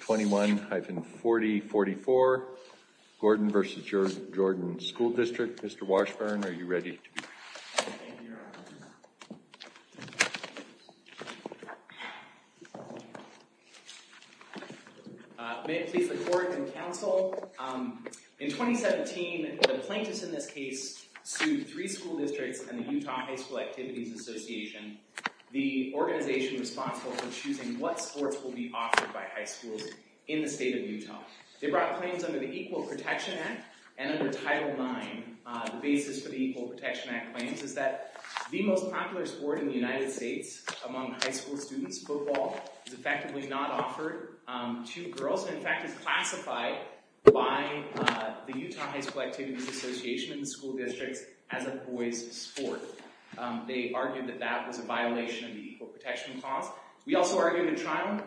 21-4044, Gordon v. Jordan School District. Mr. Washburn, are you ready to be heard? Thank you, Your Honor. May it please the court and counsel, in 2017, the plaintiffs in this case sued three school districts and the Utah High School Activities Association, the organization responsible for choosing what sports will be offered by high schools in the state of Utah. They brought claims under the Equal Protection Act and under Title IX. The basis for the Equal Protection Act claims is that the most popular sport in the United States among high school students, football, is effectively not offered to girls, and in fact is classified by the Utah High School Activities Association and the school districts as a boys' sport. They argued that that was a violation of the Equal Protection Clause. We also argued in trial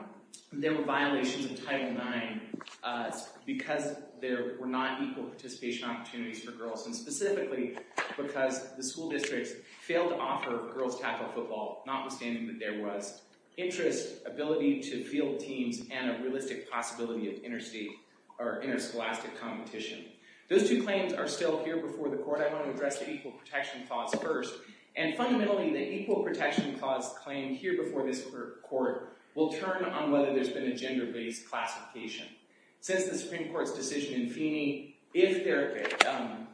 there were violations of Title IX because there were not equal participation opportunities for girls, and specifically because the school districts failed to offer girls tackle football, notwithstanding that there was interest, ability to field teams, and a realistic possibility of interstate or interscholastic competition. Those two claims are still here before the court. I want to address the Equal Protection Clause first. And fundamentally, the Equal Protection Clause claimed here before this court will turn on whether there's been a gender-based classification. Since the Supreme Court's decision in Feeney, if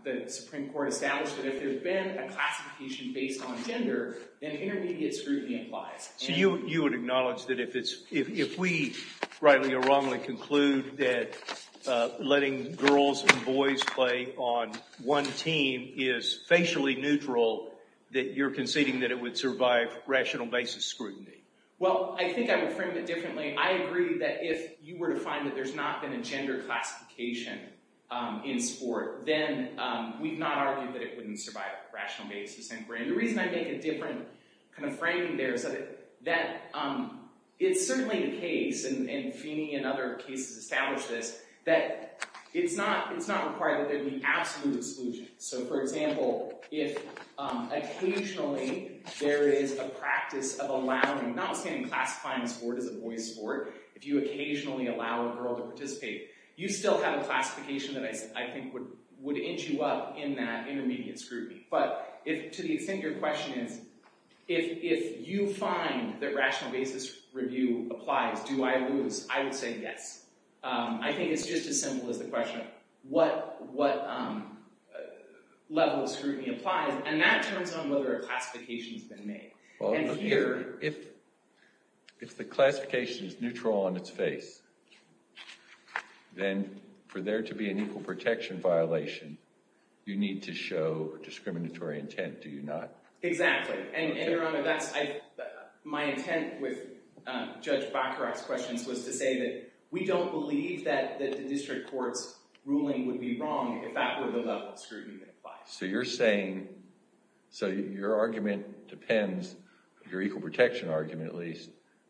the Supreme Court established that if there's been a classification based on gender, then intermediate scrutiny applies. So you would acknowledge that if we, rightly or wrongly, conclude that letting girls and boys play on one team is facially neutral, that you're conceding that it would survive rational basis scrutiny? Well, I think I would frame it differently. I agree that if you were to find that there's not been a gender classification in sport, then we've not argued that it wouldn't survive rational basis. The reason I make a different kind of framing there is that it's certainly the case, and Feeney and other cases establish this, that it's not required that there be absolute exclusion. So for example, if occasionally there is a practice of allowing, not saying classifying a sport as a boys' sport, if you occasionally allow a girl to participate, you still have a classification that I think would inch you up in that intermediate scrutiny. But to the extent your question is, if you find that rational basis review applies, do I lose? I would say yes. I think it's just as simple as the question, what level of scrutiny applies? And that turns on whether a classification's been made. And here, if the classification is neutral on its face, then for there to be an equal protection violation, you need to show discriminatory intent, do you not? Exactly. And Your Honor, my intent with Judge Bacharach's questions was to say that we don't believe that the district court's ruling would be wrong if that were the level of scrutiny that applies. So your argument depends, your equal protection argument at least,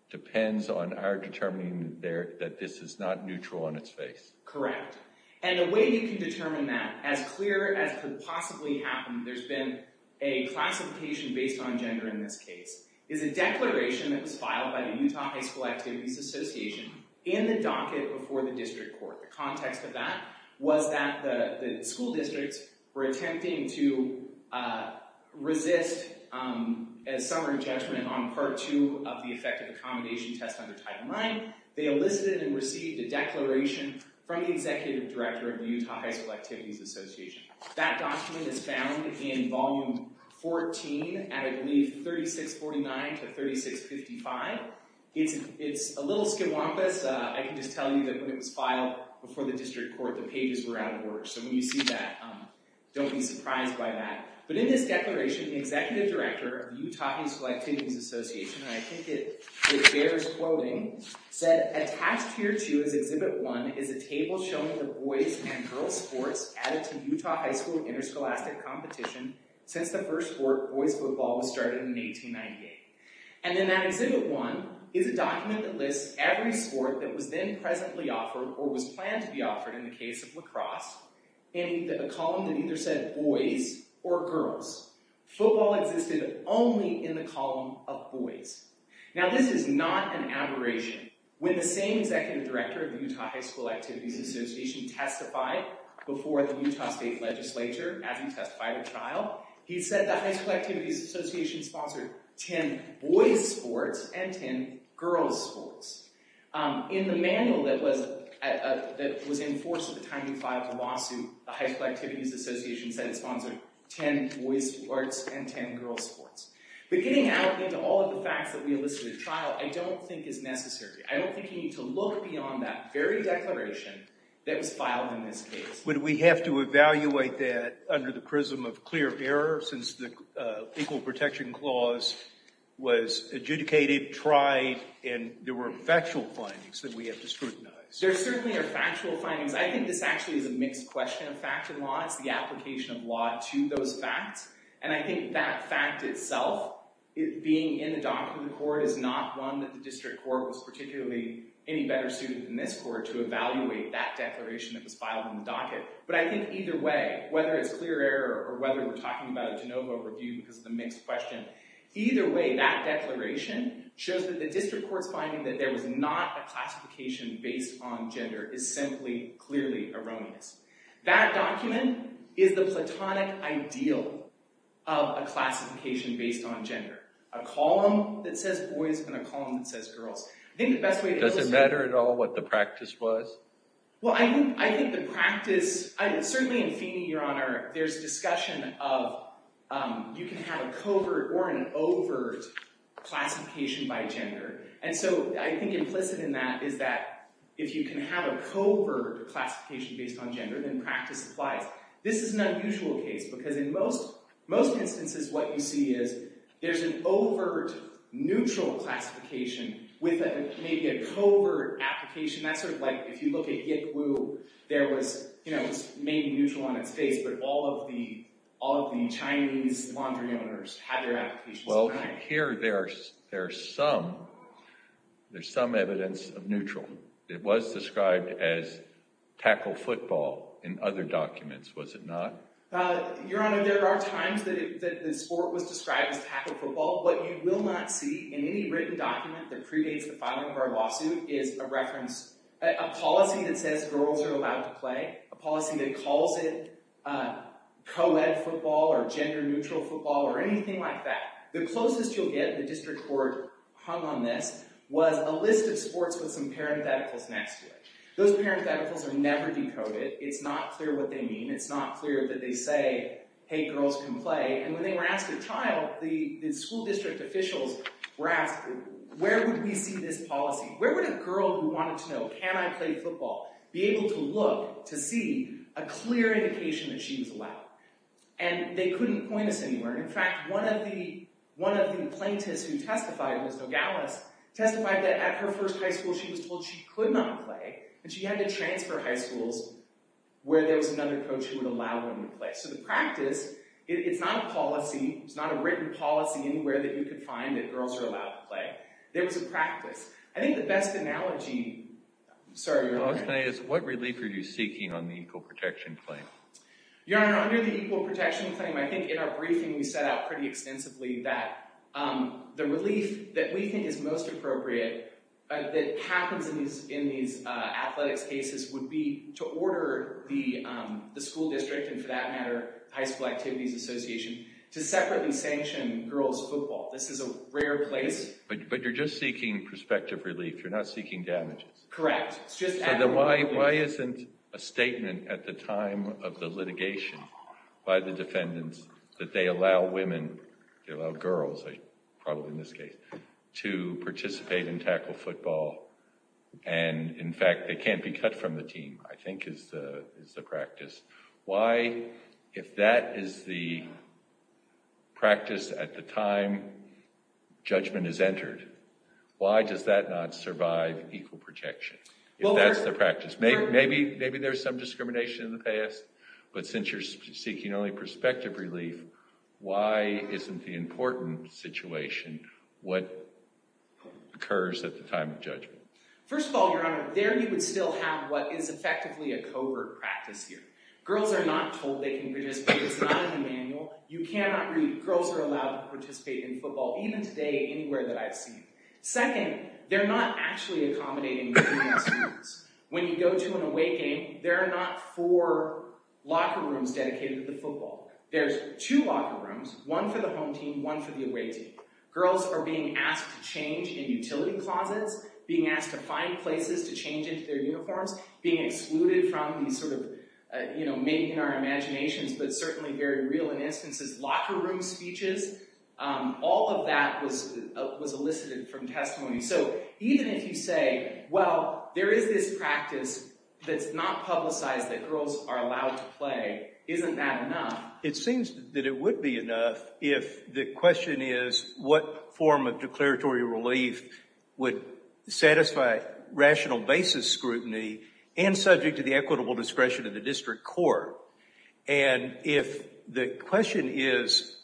depends on our determining that this is not neutral on its face. Correct. And the way we can determine that, as clear as could possibly happen, there's been a classification based on gender in this case, is a declaration that was filed by the Utah High School Activities Association in the docket before the district court. The context of that was that the school districts were attempting to resist a summary judgment on part two of the effective accommodation test under Title IX. They elicited and received a declaration from the executive director of the Utah High School Activities Association. That document is found in volume 14 at at least 3649 to 3655. It's a little skimwampus. I can just tell you that when it was filed before the district court, the pages were out of order. So when you see that, don't be surprised by that. But in this declaration, the executive director of the Utah High School Activities Association, and I think it bears quoting, said, attached here to his exhibit one is a table showing the boys and girls sports added to Utah High School interscholastic competition since the first sport, boys football, was started in 1898. And then that exhibit one is a document that lists every sport that was then presently offered or was planned to be offered in the case of lacrosse in a column that either said boys or girls. Football existed only in the column of boys. Now, this is not an aberration. When the same executive director of Utah High School Activities Association testified before the Utah state legislature as he testified at trial, he said the High School Activities Association sponsored 10 boys sports and 10 girls sports. In the manual that was in force at the time he filed the lawsuit, the High School Activities Association said it sponsored 10 boys sports and 10 girls sports. But getting out into all of the facts that we elicited at trial, I don't think is necessary. I don't think you need to look beyond that very declaration that was filed in this case. Would we have to evaluate that under the prism of clear error since the Equal Protection Clause was adjudicated, tried, and there were factual findings that we have to scrutinize? There certainly are factual findings. I think this actually is a mixed question of fact and law. It's the application of law to those facts. And I think that fact itself, being in the docket of the court is not one that the district court was particularly any better suited than this court to evaluate that declaration that was filed in the docket. But I think either way, whether it's clear error or whether we're talking about a de novo review because of the mixed question, either way, that declaration shows that the district court's finding that there was not a classification based on gender is simply, clearly erroneous. That document is the platonic ideal of a classification based on gender, a column that says boys and a column that says girls. I think the best way to illustrate that is to say. Does it matter at all what the practice was? Well, I think the practice, certainly in Feeney, there's discussion of you can have a covert or an overt classification by gender. And so I think implicit in that is that if you can have a covert classification based on gender, then practice applies. This is an unusual case. Because in most instances, what you see is there's an overt neutral classification with maybe a covert application. That's sort of like if you look at Yick Woo, there was maybe neutral on its face, but all of the Chinese laundry owners had their applications denied. Well, here there's some evidence of neutral. It was described as tackle football in other documents, was it not? Your Honor, there are times that the sport was described as tackle football. What you will not see in any written document that predates the filing of our lawsuit is a reference, a policy that says girls are allowed to play, a policy that calls it co-ed football or gender neutral football or anything like that. The closest you'll get, the district court hung on this, was a list of sports with some parentheticals next to it. Those parentheticals are never decoded. It's not clear what they mean. It's not clear that they say, hey, girls can play. And when they were asked a child, the school district officials were asked, where would we see this policy? Where would a girl who wanted to know, can I play football, be able to look to see a clear indication that she was allowed? And they couldn't point us anywhere. In fact, one of the plaintiffs who testified, who was Nogales, testified that at her first high school, she was told she could not play, and she had to transfer high schools where there was another coach who would allow women to play. So the practice, it's not a policy, it's not a written policy anywhere that you could find that girls are allowed to play. There was a practice. I think the best analogy, sorry, your honor. I was going to ask, what relief are you seeking on the equal protection claim? Your honor, under the equal protection claim, I think in our briefing, we set out pretty extensively that the relief that we think is most appropriate, that happens in these athletics cases, would be to order the school district, and for that matter, High School Activities Association, to separately sanction girls' football. This is a rare place. But you're just seeking prospective relief. You're not seeking damages. Correct. It's just that. Why isn't a statement at the time of the litigation by the defendants that they allow women, they allow girls, probably in this case, to participate in tackle football, and in fact, they can't be cut from the team, I think is the practice. Why, if that is the practice at the time, judgment is entered, why does that not survive equal protection? If that's the practice. Maybe there's some discrimination in the past, but since you're seeking only prospective relief, why isn't the important situation what occurs at the time of judgment? First of all, your honor, there you would still have what is effectively a covert practice here. Girls are not told they can participate. It's not in the manual. You cannot read, girls are allowed to participate in football, even today, anywhere that I've seen. Second, they're not actually accommodating within those rooms. When you go to an away game, there are not four locker rooms dedicated to the football. There's two locker rooms, one for the home team, one for the away team. Girls are being asked to change in utility closets, being asked to find places to change into their uniforms, being excluded from these sort of, maybe in our imaginations, but certainly very real in instances, locker room speeches, all of that was elicited from testimony. So even if you say, well, there is this practice that's not publicized that girls are allowed to play, isn't that enough? It seems that it would be enough if the question is what form of declaratory relief would satisfy rational basis scrutiny and subject to the equitable discretion of the district court? And if the question is,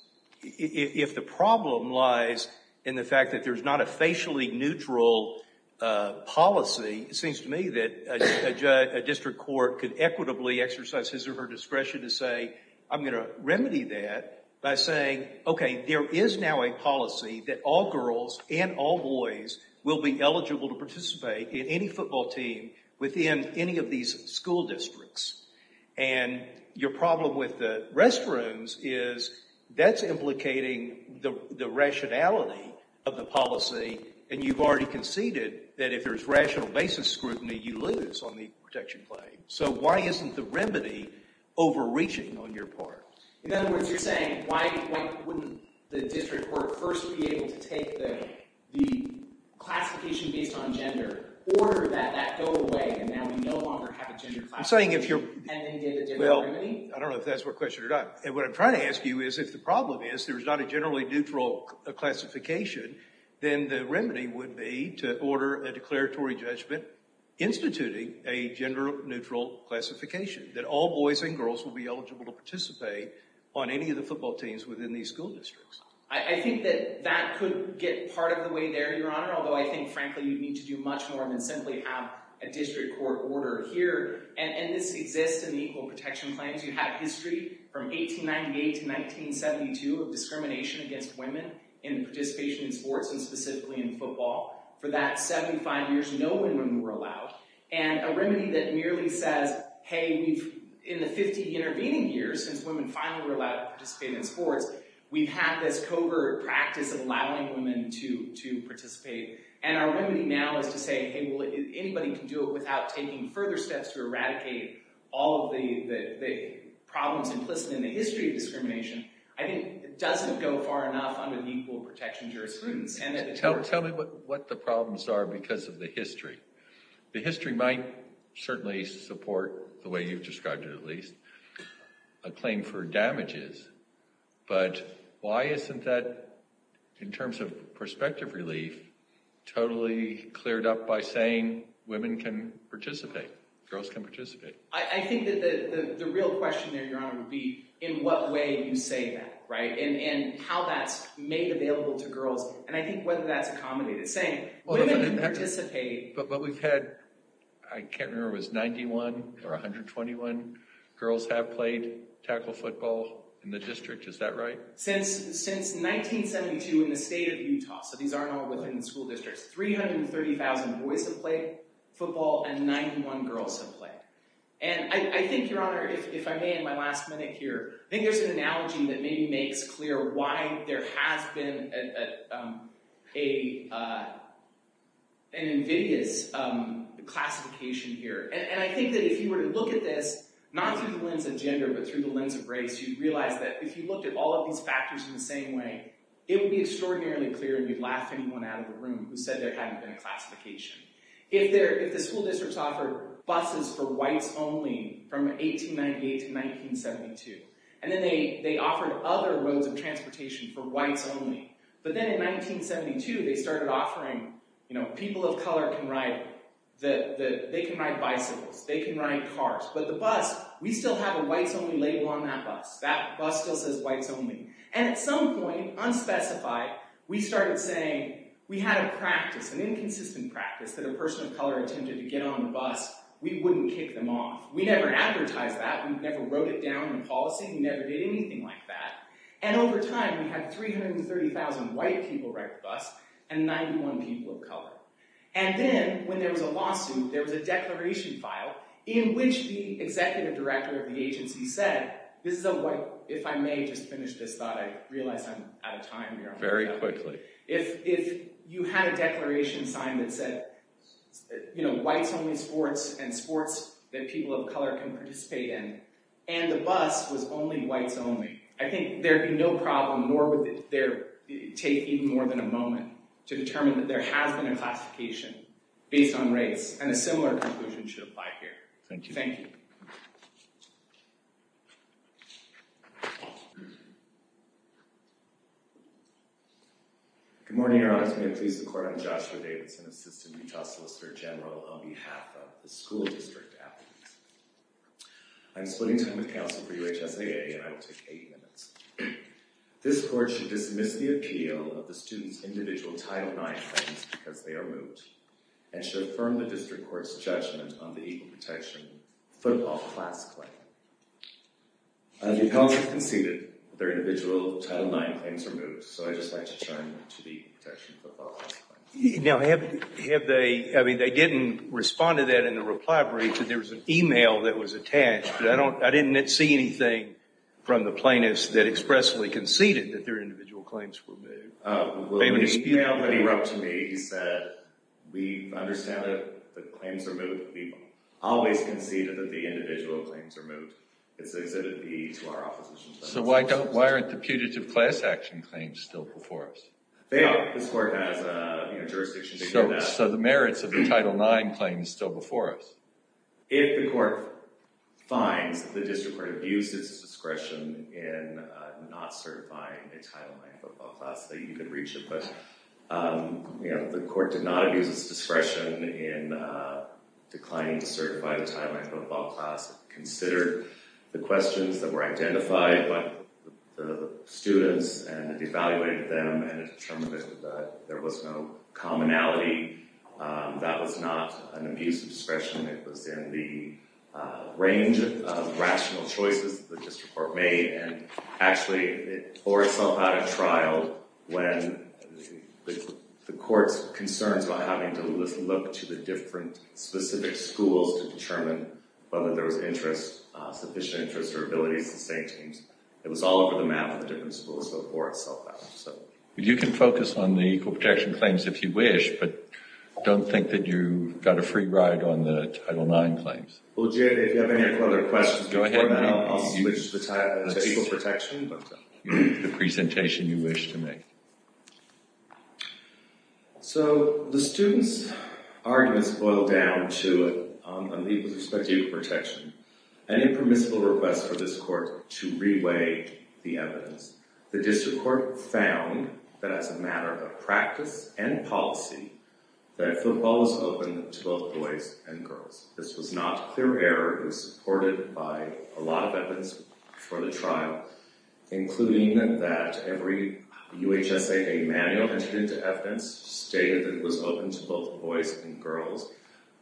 if the problem lies in the fact that there's not a facially neutral policy, it seems to me that a district court could equitably exercise his or her discretion to say, I'm gonna remedy that by saying, okay, there is now a policy that all girls and all boys will be eligible to participate in any football team within any of these school districts. And your problem with the restrooms is that's implicating the rationality of the policy and you've already conceded that if there's rational basis scrutiny, you lose on the protection claim. So why isn't the remedy overreaching on your part? In other words, you're saying, why wouldn't the district court first be able to take the classification based on gender, order that that go away and now we no longer have a gender classification? And then get a different remedy? I don't know if that's what question or not. And what I'm trying to ask you is if the problem is there's not a generally neutral classification, then the remedy would be to order a declaratory judgment instituting a gender neutral classification that all boys and girls will be eligible to participate on any of the football teams within these school districts. I think that that could get part of the way there, Your Honor, although I think frankly, you'd need to do much more than simply have a district court order here. And this exists in the Equal Protection Claims. You have history from 1898 to 1972 of discrimination against women in participation in sports and specifically in football. For that 75 years, no women were allowed. And a remedy that merely says, hey, in the 50 intervening years, since women finally were allowed to participate in sports, we've had this covert practice of allowing women to participate. And our remedy now is to say, hey, well, anybody can do it without taking further steps to eradicate all of the problems implicit in the history of discrimination. I think it doesn't go far enough under the Equal Protection Jurisprudence. Tell me what the problems are because of the history. The history might certainly support, the way you've described it at least, a claim for damages. But why isn't that, in terms of perspective relief, totally cleared up by saying women can participate, girls can participate? I think that the real question there, Your Honor, would be in what way you say that, right? And how that's made available to girls. And I think whether that's accommodated. Saying women can participate. But we've had, I can't remember if it was 91 or 121 girls have played tackle football in the district. Is that right? Since 1972 in the state of Utah, so these aren't all within the school districts, 330,000 boys have played football and 91 girls have played. And I think, Your Honor, if I may in my last minute here, I think there's an analogy that maybe makes clear why there has been an invidious classification here. And I think that if you were to look at this, not through the lens of gender, but through the lens of race, you'd realize that if you looked at all of these factors in the same way, it would be extraordinarily clear you'd laugh anyone out of the room who said there hadn't been a classification. If the school districts offered buses for whites only from 1898 to 1972, and then they offered other modes of transportation for whites only. But then in 1972, they started offering, people of color can ride, they can ride bicycles, they can ride cars, but the bus, we still have a whites only label on that bus. That bus still says whites only. And at some point, unspecified, we started saying, we had a practice, an inconsistent practice that a person of color attempted to get on the bus, we wouldn't kick them off. We never advertised that, we never wrote it down in policy, we never did anything like that. And over time, we had 330,000 white people ride the bus and 91 people of color. And then when there was a lawsuit, there was a declaration file in which the executive director of the agency said, this is a white, if I may just finish this thought, I realize I'm out of time here. Very quickly. If you had a declaration sign that said, whites only sports and sports that people of color can participate in, and the bus was only whites only, I think there'd be no problem, nor would there take even more than a moment to determine that there has been a classification based on race. And a similar conclusion should apply here. Thank you. Thank you. Thank you. Good morning, Your Honor. May it please the court, I'm Joshua Davidson, Assistant Utah Solicitor General on behalf of the school district athletes. I'm splitting time with counsel for UHSAA and I will take eight minutes. This court should dismiss the appeal of the student's individual Title IX claims because they are moot, and should affirm the district court's judgment on the equal protection football class claim. The counsel conceded their individual Title IX claims are moot, so I'd just like to turn to the protection football class claim. Now, have they, I mean, they didn't respond to that in the reply brief, and there was an email that was attached, but I didn't see anything from the plaintiffs that expressly conceded that their individual claims were moot. Well, the email that he wrote to me, he said, we understand that the claims are moot, we've always conceded that the individual claims are moot, it's exhibited to our opposition. So why aren't the putative class action claims still before us? They are, this court has a jurisdiction to do that. So the merits of the Title IX claim is still before us? If the court finds that the district court abuses its discretion in not certifying a Title IX football class, then you can reach it, but, you know, if the court did not abuse its discretion in declining to certify a Title IX football class, consider the questions that were identified by the students, and evaluated them, and determined that there was no commonality, that was not an abuse of discretion, it was in the range of rational choices that the district court made, and actually it bore itself out of trial when the court's concerns about having to look to the different specific schools to determine whether there was interest, sufficient interest, or abilities to save teams. It was all over the map of the different schools, so it bore itself out, so. You can focus on the equal protection claims if you wish, but don't think that you got a free ride on the Title IX claims. Well, Jay, if you have any other questions before now, I'll switch the title to equal protection. The presentation you wish to make. So, the students' arguments boil down to, on the equal perspective of protection, an impermissible request for this court to re-weigh the evidence. The district court found that as a matter of practice and policy, that football was open to both boys and girls. This was not clear error, it was supported by a lot of evidence before the trial, including that every UHSAA manual entered into evidence stated that it was open to both boys and girls.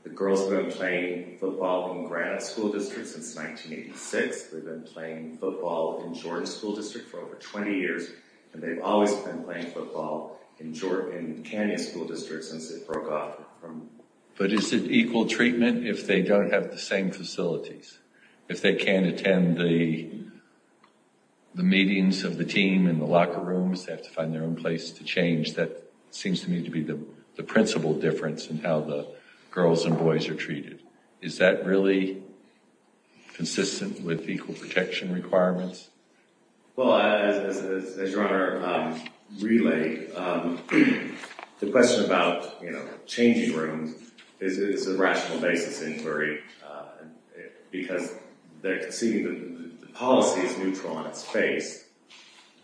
The girls have been playing football in Granite School District since 1986. They've been playing football in Jordan School District for over 20 years, and they've always been playing football in Canyon School District since it broke off from. But is it equal treatment if they don't have the same facilities? If they can't attend the meetings of the team in the locker rooms, they have to find their own place to change. That seems to me to be the principal difference in how the girls and boys are treated. Is that really consistent with equal protection requirements? Well, as your Honor relayed, the question about changing rooms is a rational basis inquiry. Because they're conceding that the policy is neutral on its face,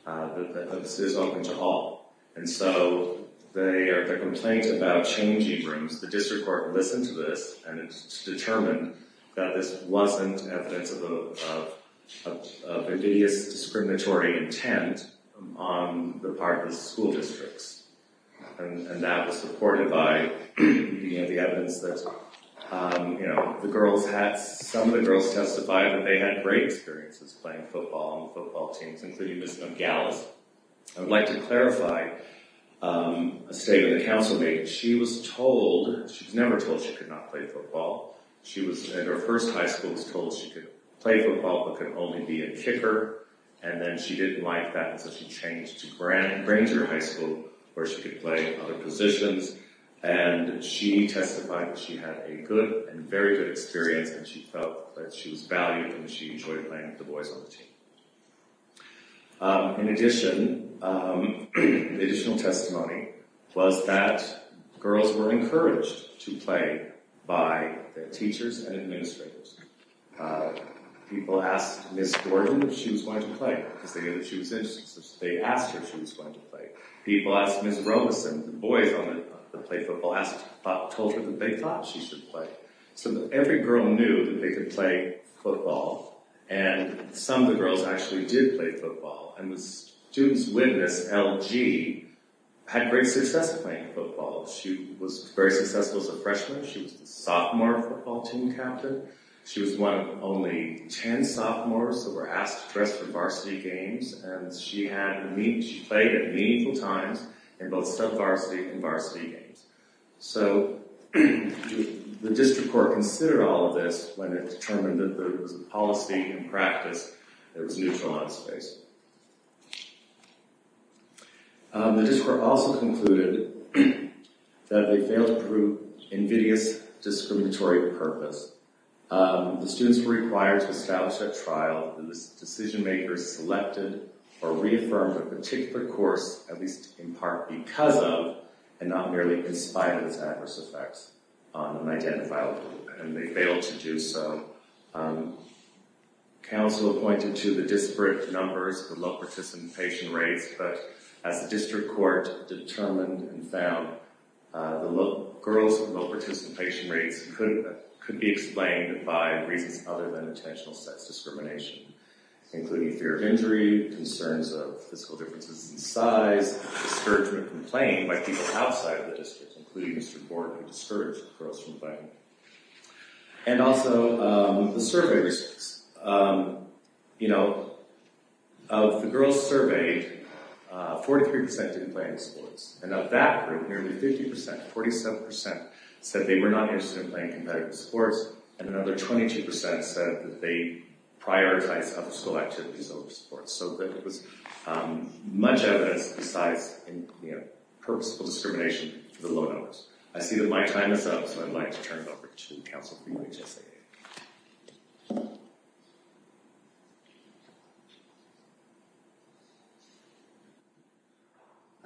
that this is open to all. And so the complaint about changing rooms, the district court listened to this and it's determined that this wasn't evidence of invidious discriminatory intent on the part of the school districts. And that was supported by the evidence that some of the girls testified that they had great experiences playing football on the football teams, including Ms. Nogales. I would like to clarify a statement the counsel made. She was told, she was never told she could not play football. She was, in her first high school, was told she could play football but could only be a kicker. And then she didn't like that, and so she changed to Granger High School where she could play other positions. And she testified that she had a good and very good experience, and she felt that she was valued and she enjoyed playing with the boys on the team. In addition, additional testimony was that girls were encouraged to play by their teachers and administrators. People asked Ms. Gordon if she was going to play, because they knew that she was interested. So they asked her if she was going to play. People asked Ms. Robeson, the boys on the play football asked, told her that they thought she should play. So every girl knew that they could play football, and some of the girls actually did play football. And the student's witness, LG, had great success playing football. She was very successful as a freshman. She was the sophomore football team captain. She was one of only 10 sophomores that were asked to dress for varsity games, and she played at meaningful times in both sub-varsity and varsity games. So the district court considered all of this when it determined that there was a policy and practice that was neutral on this case. The district court also concluded that they failed to prove invidious discriminatory purpose. The students were required to establish a trial, and the decision makers selected or reaffirmed a particular course, at least in part because of, and not merely in spite of its adverse effects on an identifiable group, and they failed to do so. Council appointed to the disparate numbers the low participation rates, but as the district court determined and found, the girls with low participation rates could be explained by reasons other than intentional sex discrimination, including fear of injury, concerns of physical differences in size, discouragement from playing by people outside the district, including Mr. Gordon, who discouraged the girls from playing. And also the survey results. Of the girls surveyed, 43% didn't play any sports, and of that group, nearly 50%, 47% said they were not interested in playing competitive sports, and another 22% said that they prioritized other school activities over sports, so that it was much evidence besides purposeful discrimination for the low numbers. I see that my time is up, so I'd like to turn it over to Council for you, HSA.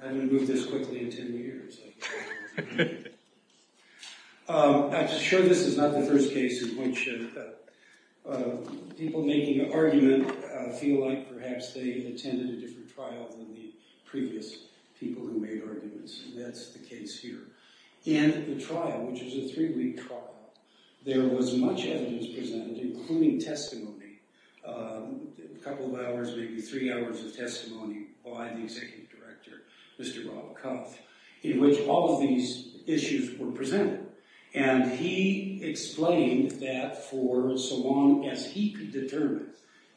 I haven't moved this quickly in 10 years. I'm sure this is not the first case in which people making an argument feel like, perhaps, they attended a different trial than the previous people who made arguments, and that's the case here. In the trial, which is a three-week trial, there was much evidence presented, including testimony, a couple of hours, maybe three hours of testimony by the Executive Director, Mr. Rob Cuff. In which all of these issues were presented, and he explained that for so long as he could determine,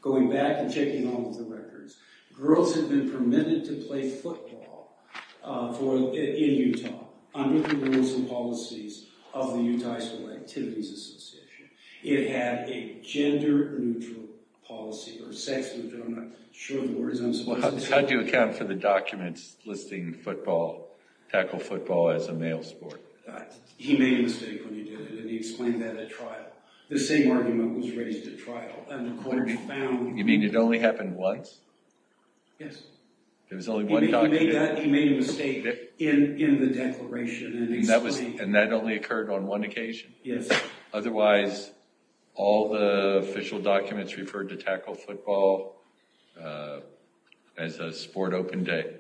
going back and checking all of the records, girls had been permitted to play football in Utah under the rules and policies of the Utah High School Activities Association. It had a gender-neutral policy, or sex-neutral, I'm not sure of the words, I'm supposed to say. How do you account for the documents listing football, tackle football, as a male sport? He made a mistake when he did it, and he explained that at trial. The same argument was raised at trial, and the court found that. You mean it only happened once? Yes. There was only one document? He made that, he made a mistake in the declaration, and explained it. And that only occurred on one occasion? Yes. Otherwise, all the official documents referred to tackle football as a sport open day?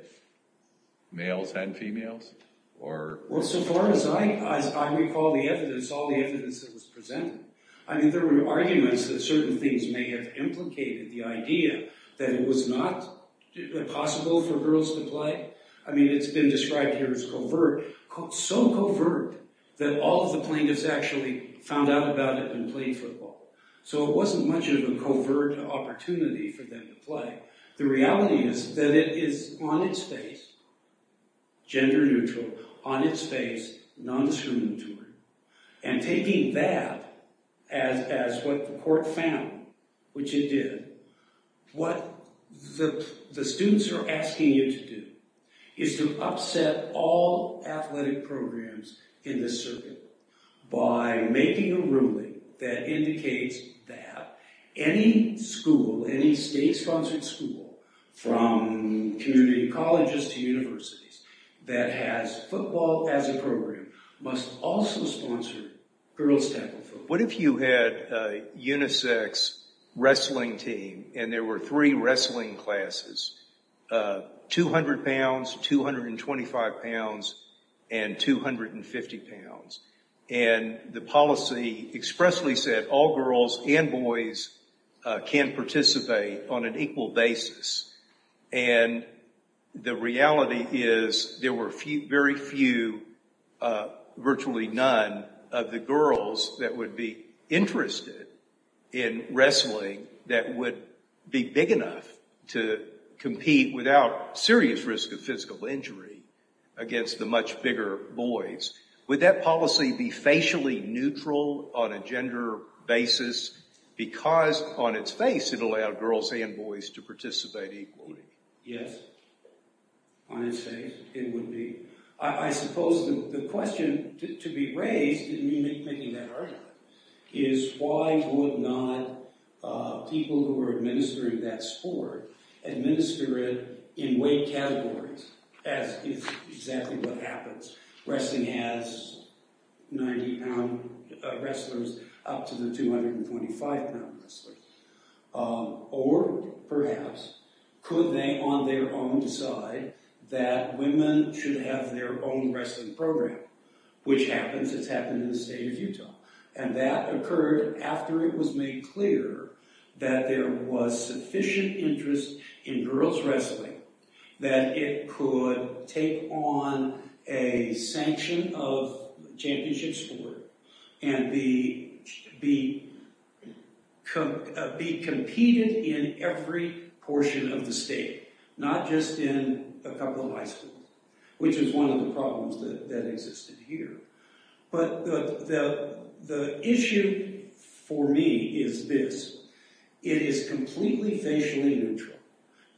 Males and females? Or? Well, so far as I recall the evidence, all the evidence that was presented, I mean, there were arguments that certain things may have implicated the idea that it was not possible for girls to play. I mean, it's been described here as covert, so covert that all of the plaintiffs actually found out about it and played football. So it wasn't much of a covert opportunity for them to play. The reality is that it is on its face, gender neutral, on its face, non-discriminatory. And taking that as what the court found, which it did, what the students are asking you to do is to upset all athletic programs in this circuit by making a ruling that indicates that any school, any state-sponsored school, from community colleges to universities that has football as a program must also sponsor girls' tackle football. What if you had a unisex wrestling team, and there were three wrestling classes, 200 pounds, 225 pounds, and 250 pounds, and the policy expressly said all girls and boys can participate on an equal basis. And the reality is there were very few, virtually none, of the girls that would be interested in wrestling that would be big enough to compete without serious risk of physical injury against the much bigger boys. Would that policy be facially neutral on a gender basis because on its face it allowed girls and boys to participate equally? Yes, on its face it would be. I suppose the question to be raised, and you may be making that argument, is why would not people who are administering that sport administer it in weight categories, as is exactly what happens. Wrestling has 90-pound wrestlers up to the 225-pound wrestlers. Or, perhaps, could they on their own decide that women should have their own wrestling program, which happens, it's happened in the state of Utah. And that occurred after it was made clear that there was sufficient interest in girls' wrestling, that it could take on a sanction of championships for it, and be competed in every portion of the state, not just in a couple of high schools, which is one of the problems that existed here. But the issue, for me, is this. It is completely facially neutral.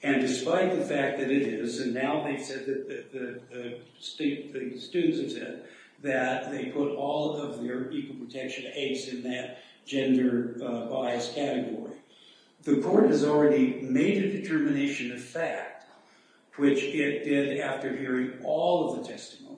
And despite the fact that it is, and now they've said, the students have said, that they put all of their equal protection aides in that gender bias category. The court has already made a determination of fact, which it did after hearing all of the testimony,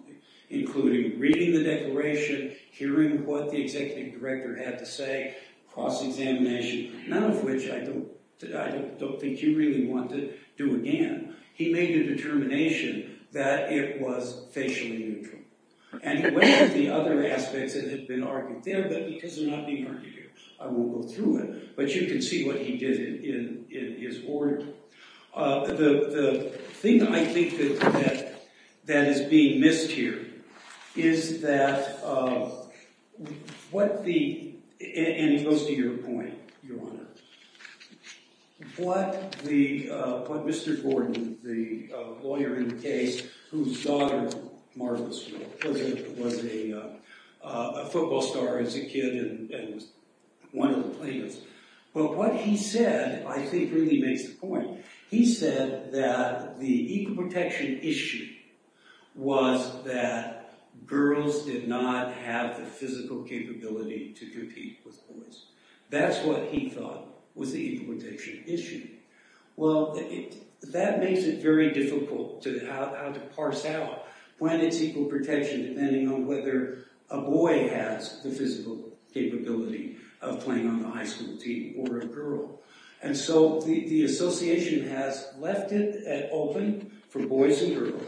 including reading the declaration, hearing what the executive director had to say, cross-examination, none of which I don't think you really want to do again. He made a determination that it was facially neutral. And he went through the other aspects that had been argued there, but because they're not being argued here, I won't go through it, but you can see what he did in his order. The thing that I think that is being missed here is that what the, and it goes to your point, Your Honor, what Mr. Gordon, the lawyer in the case, whose daughter was a football star as a kid and was one of the plaintiffs, but what he said, I think, really makes the point. He said that the equal protection issue was that girls did not have the physical capability to compete with boys. That's what he thought was the equal protection issue. Well, that makes it very difficult how to parse out when it's equal protection depending on whether a boy has the physical capability of playing on the high school team or a girl. And so the association has left it open for boys and girls.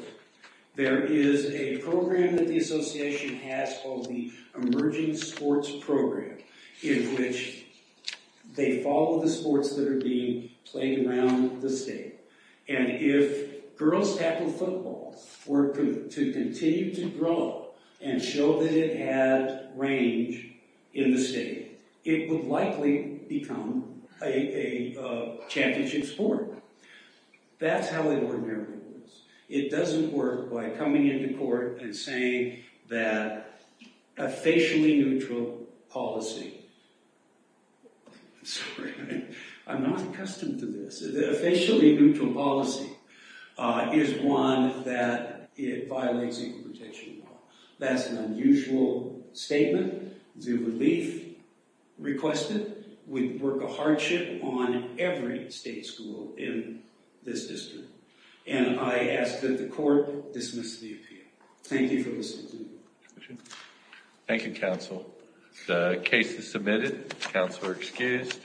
There is a program that the association has called the Emerging Sports Program in which they follow the sports that are being played around the state. And if girls tackle football were to continue to grow and show that it had range in the state, it would likely become a championship sport. That's how it ordinarily works. It doesn't work by coming into court and saying that a facially neutral policy, sorry, I'm not accustomed to this, a facially neutral policy is one that it violates equal protection law. That's an unusual statement. The relief requested would work a hardship on every state school in this district. And I ask that the court dismiss the appeal. Thank you for listening. Thank you, counsel. The case is submitted. Counsel are excused.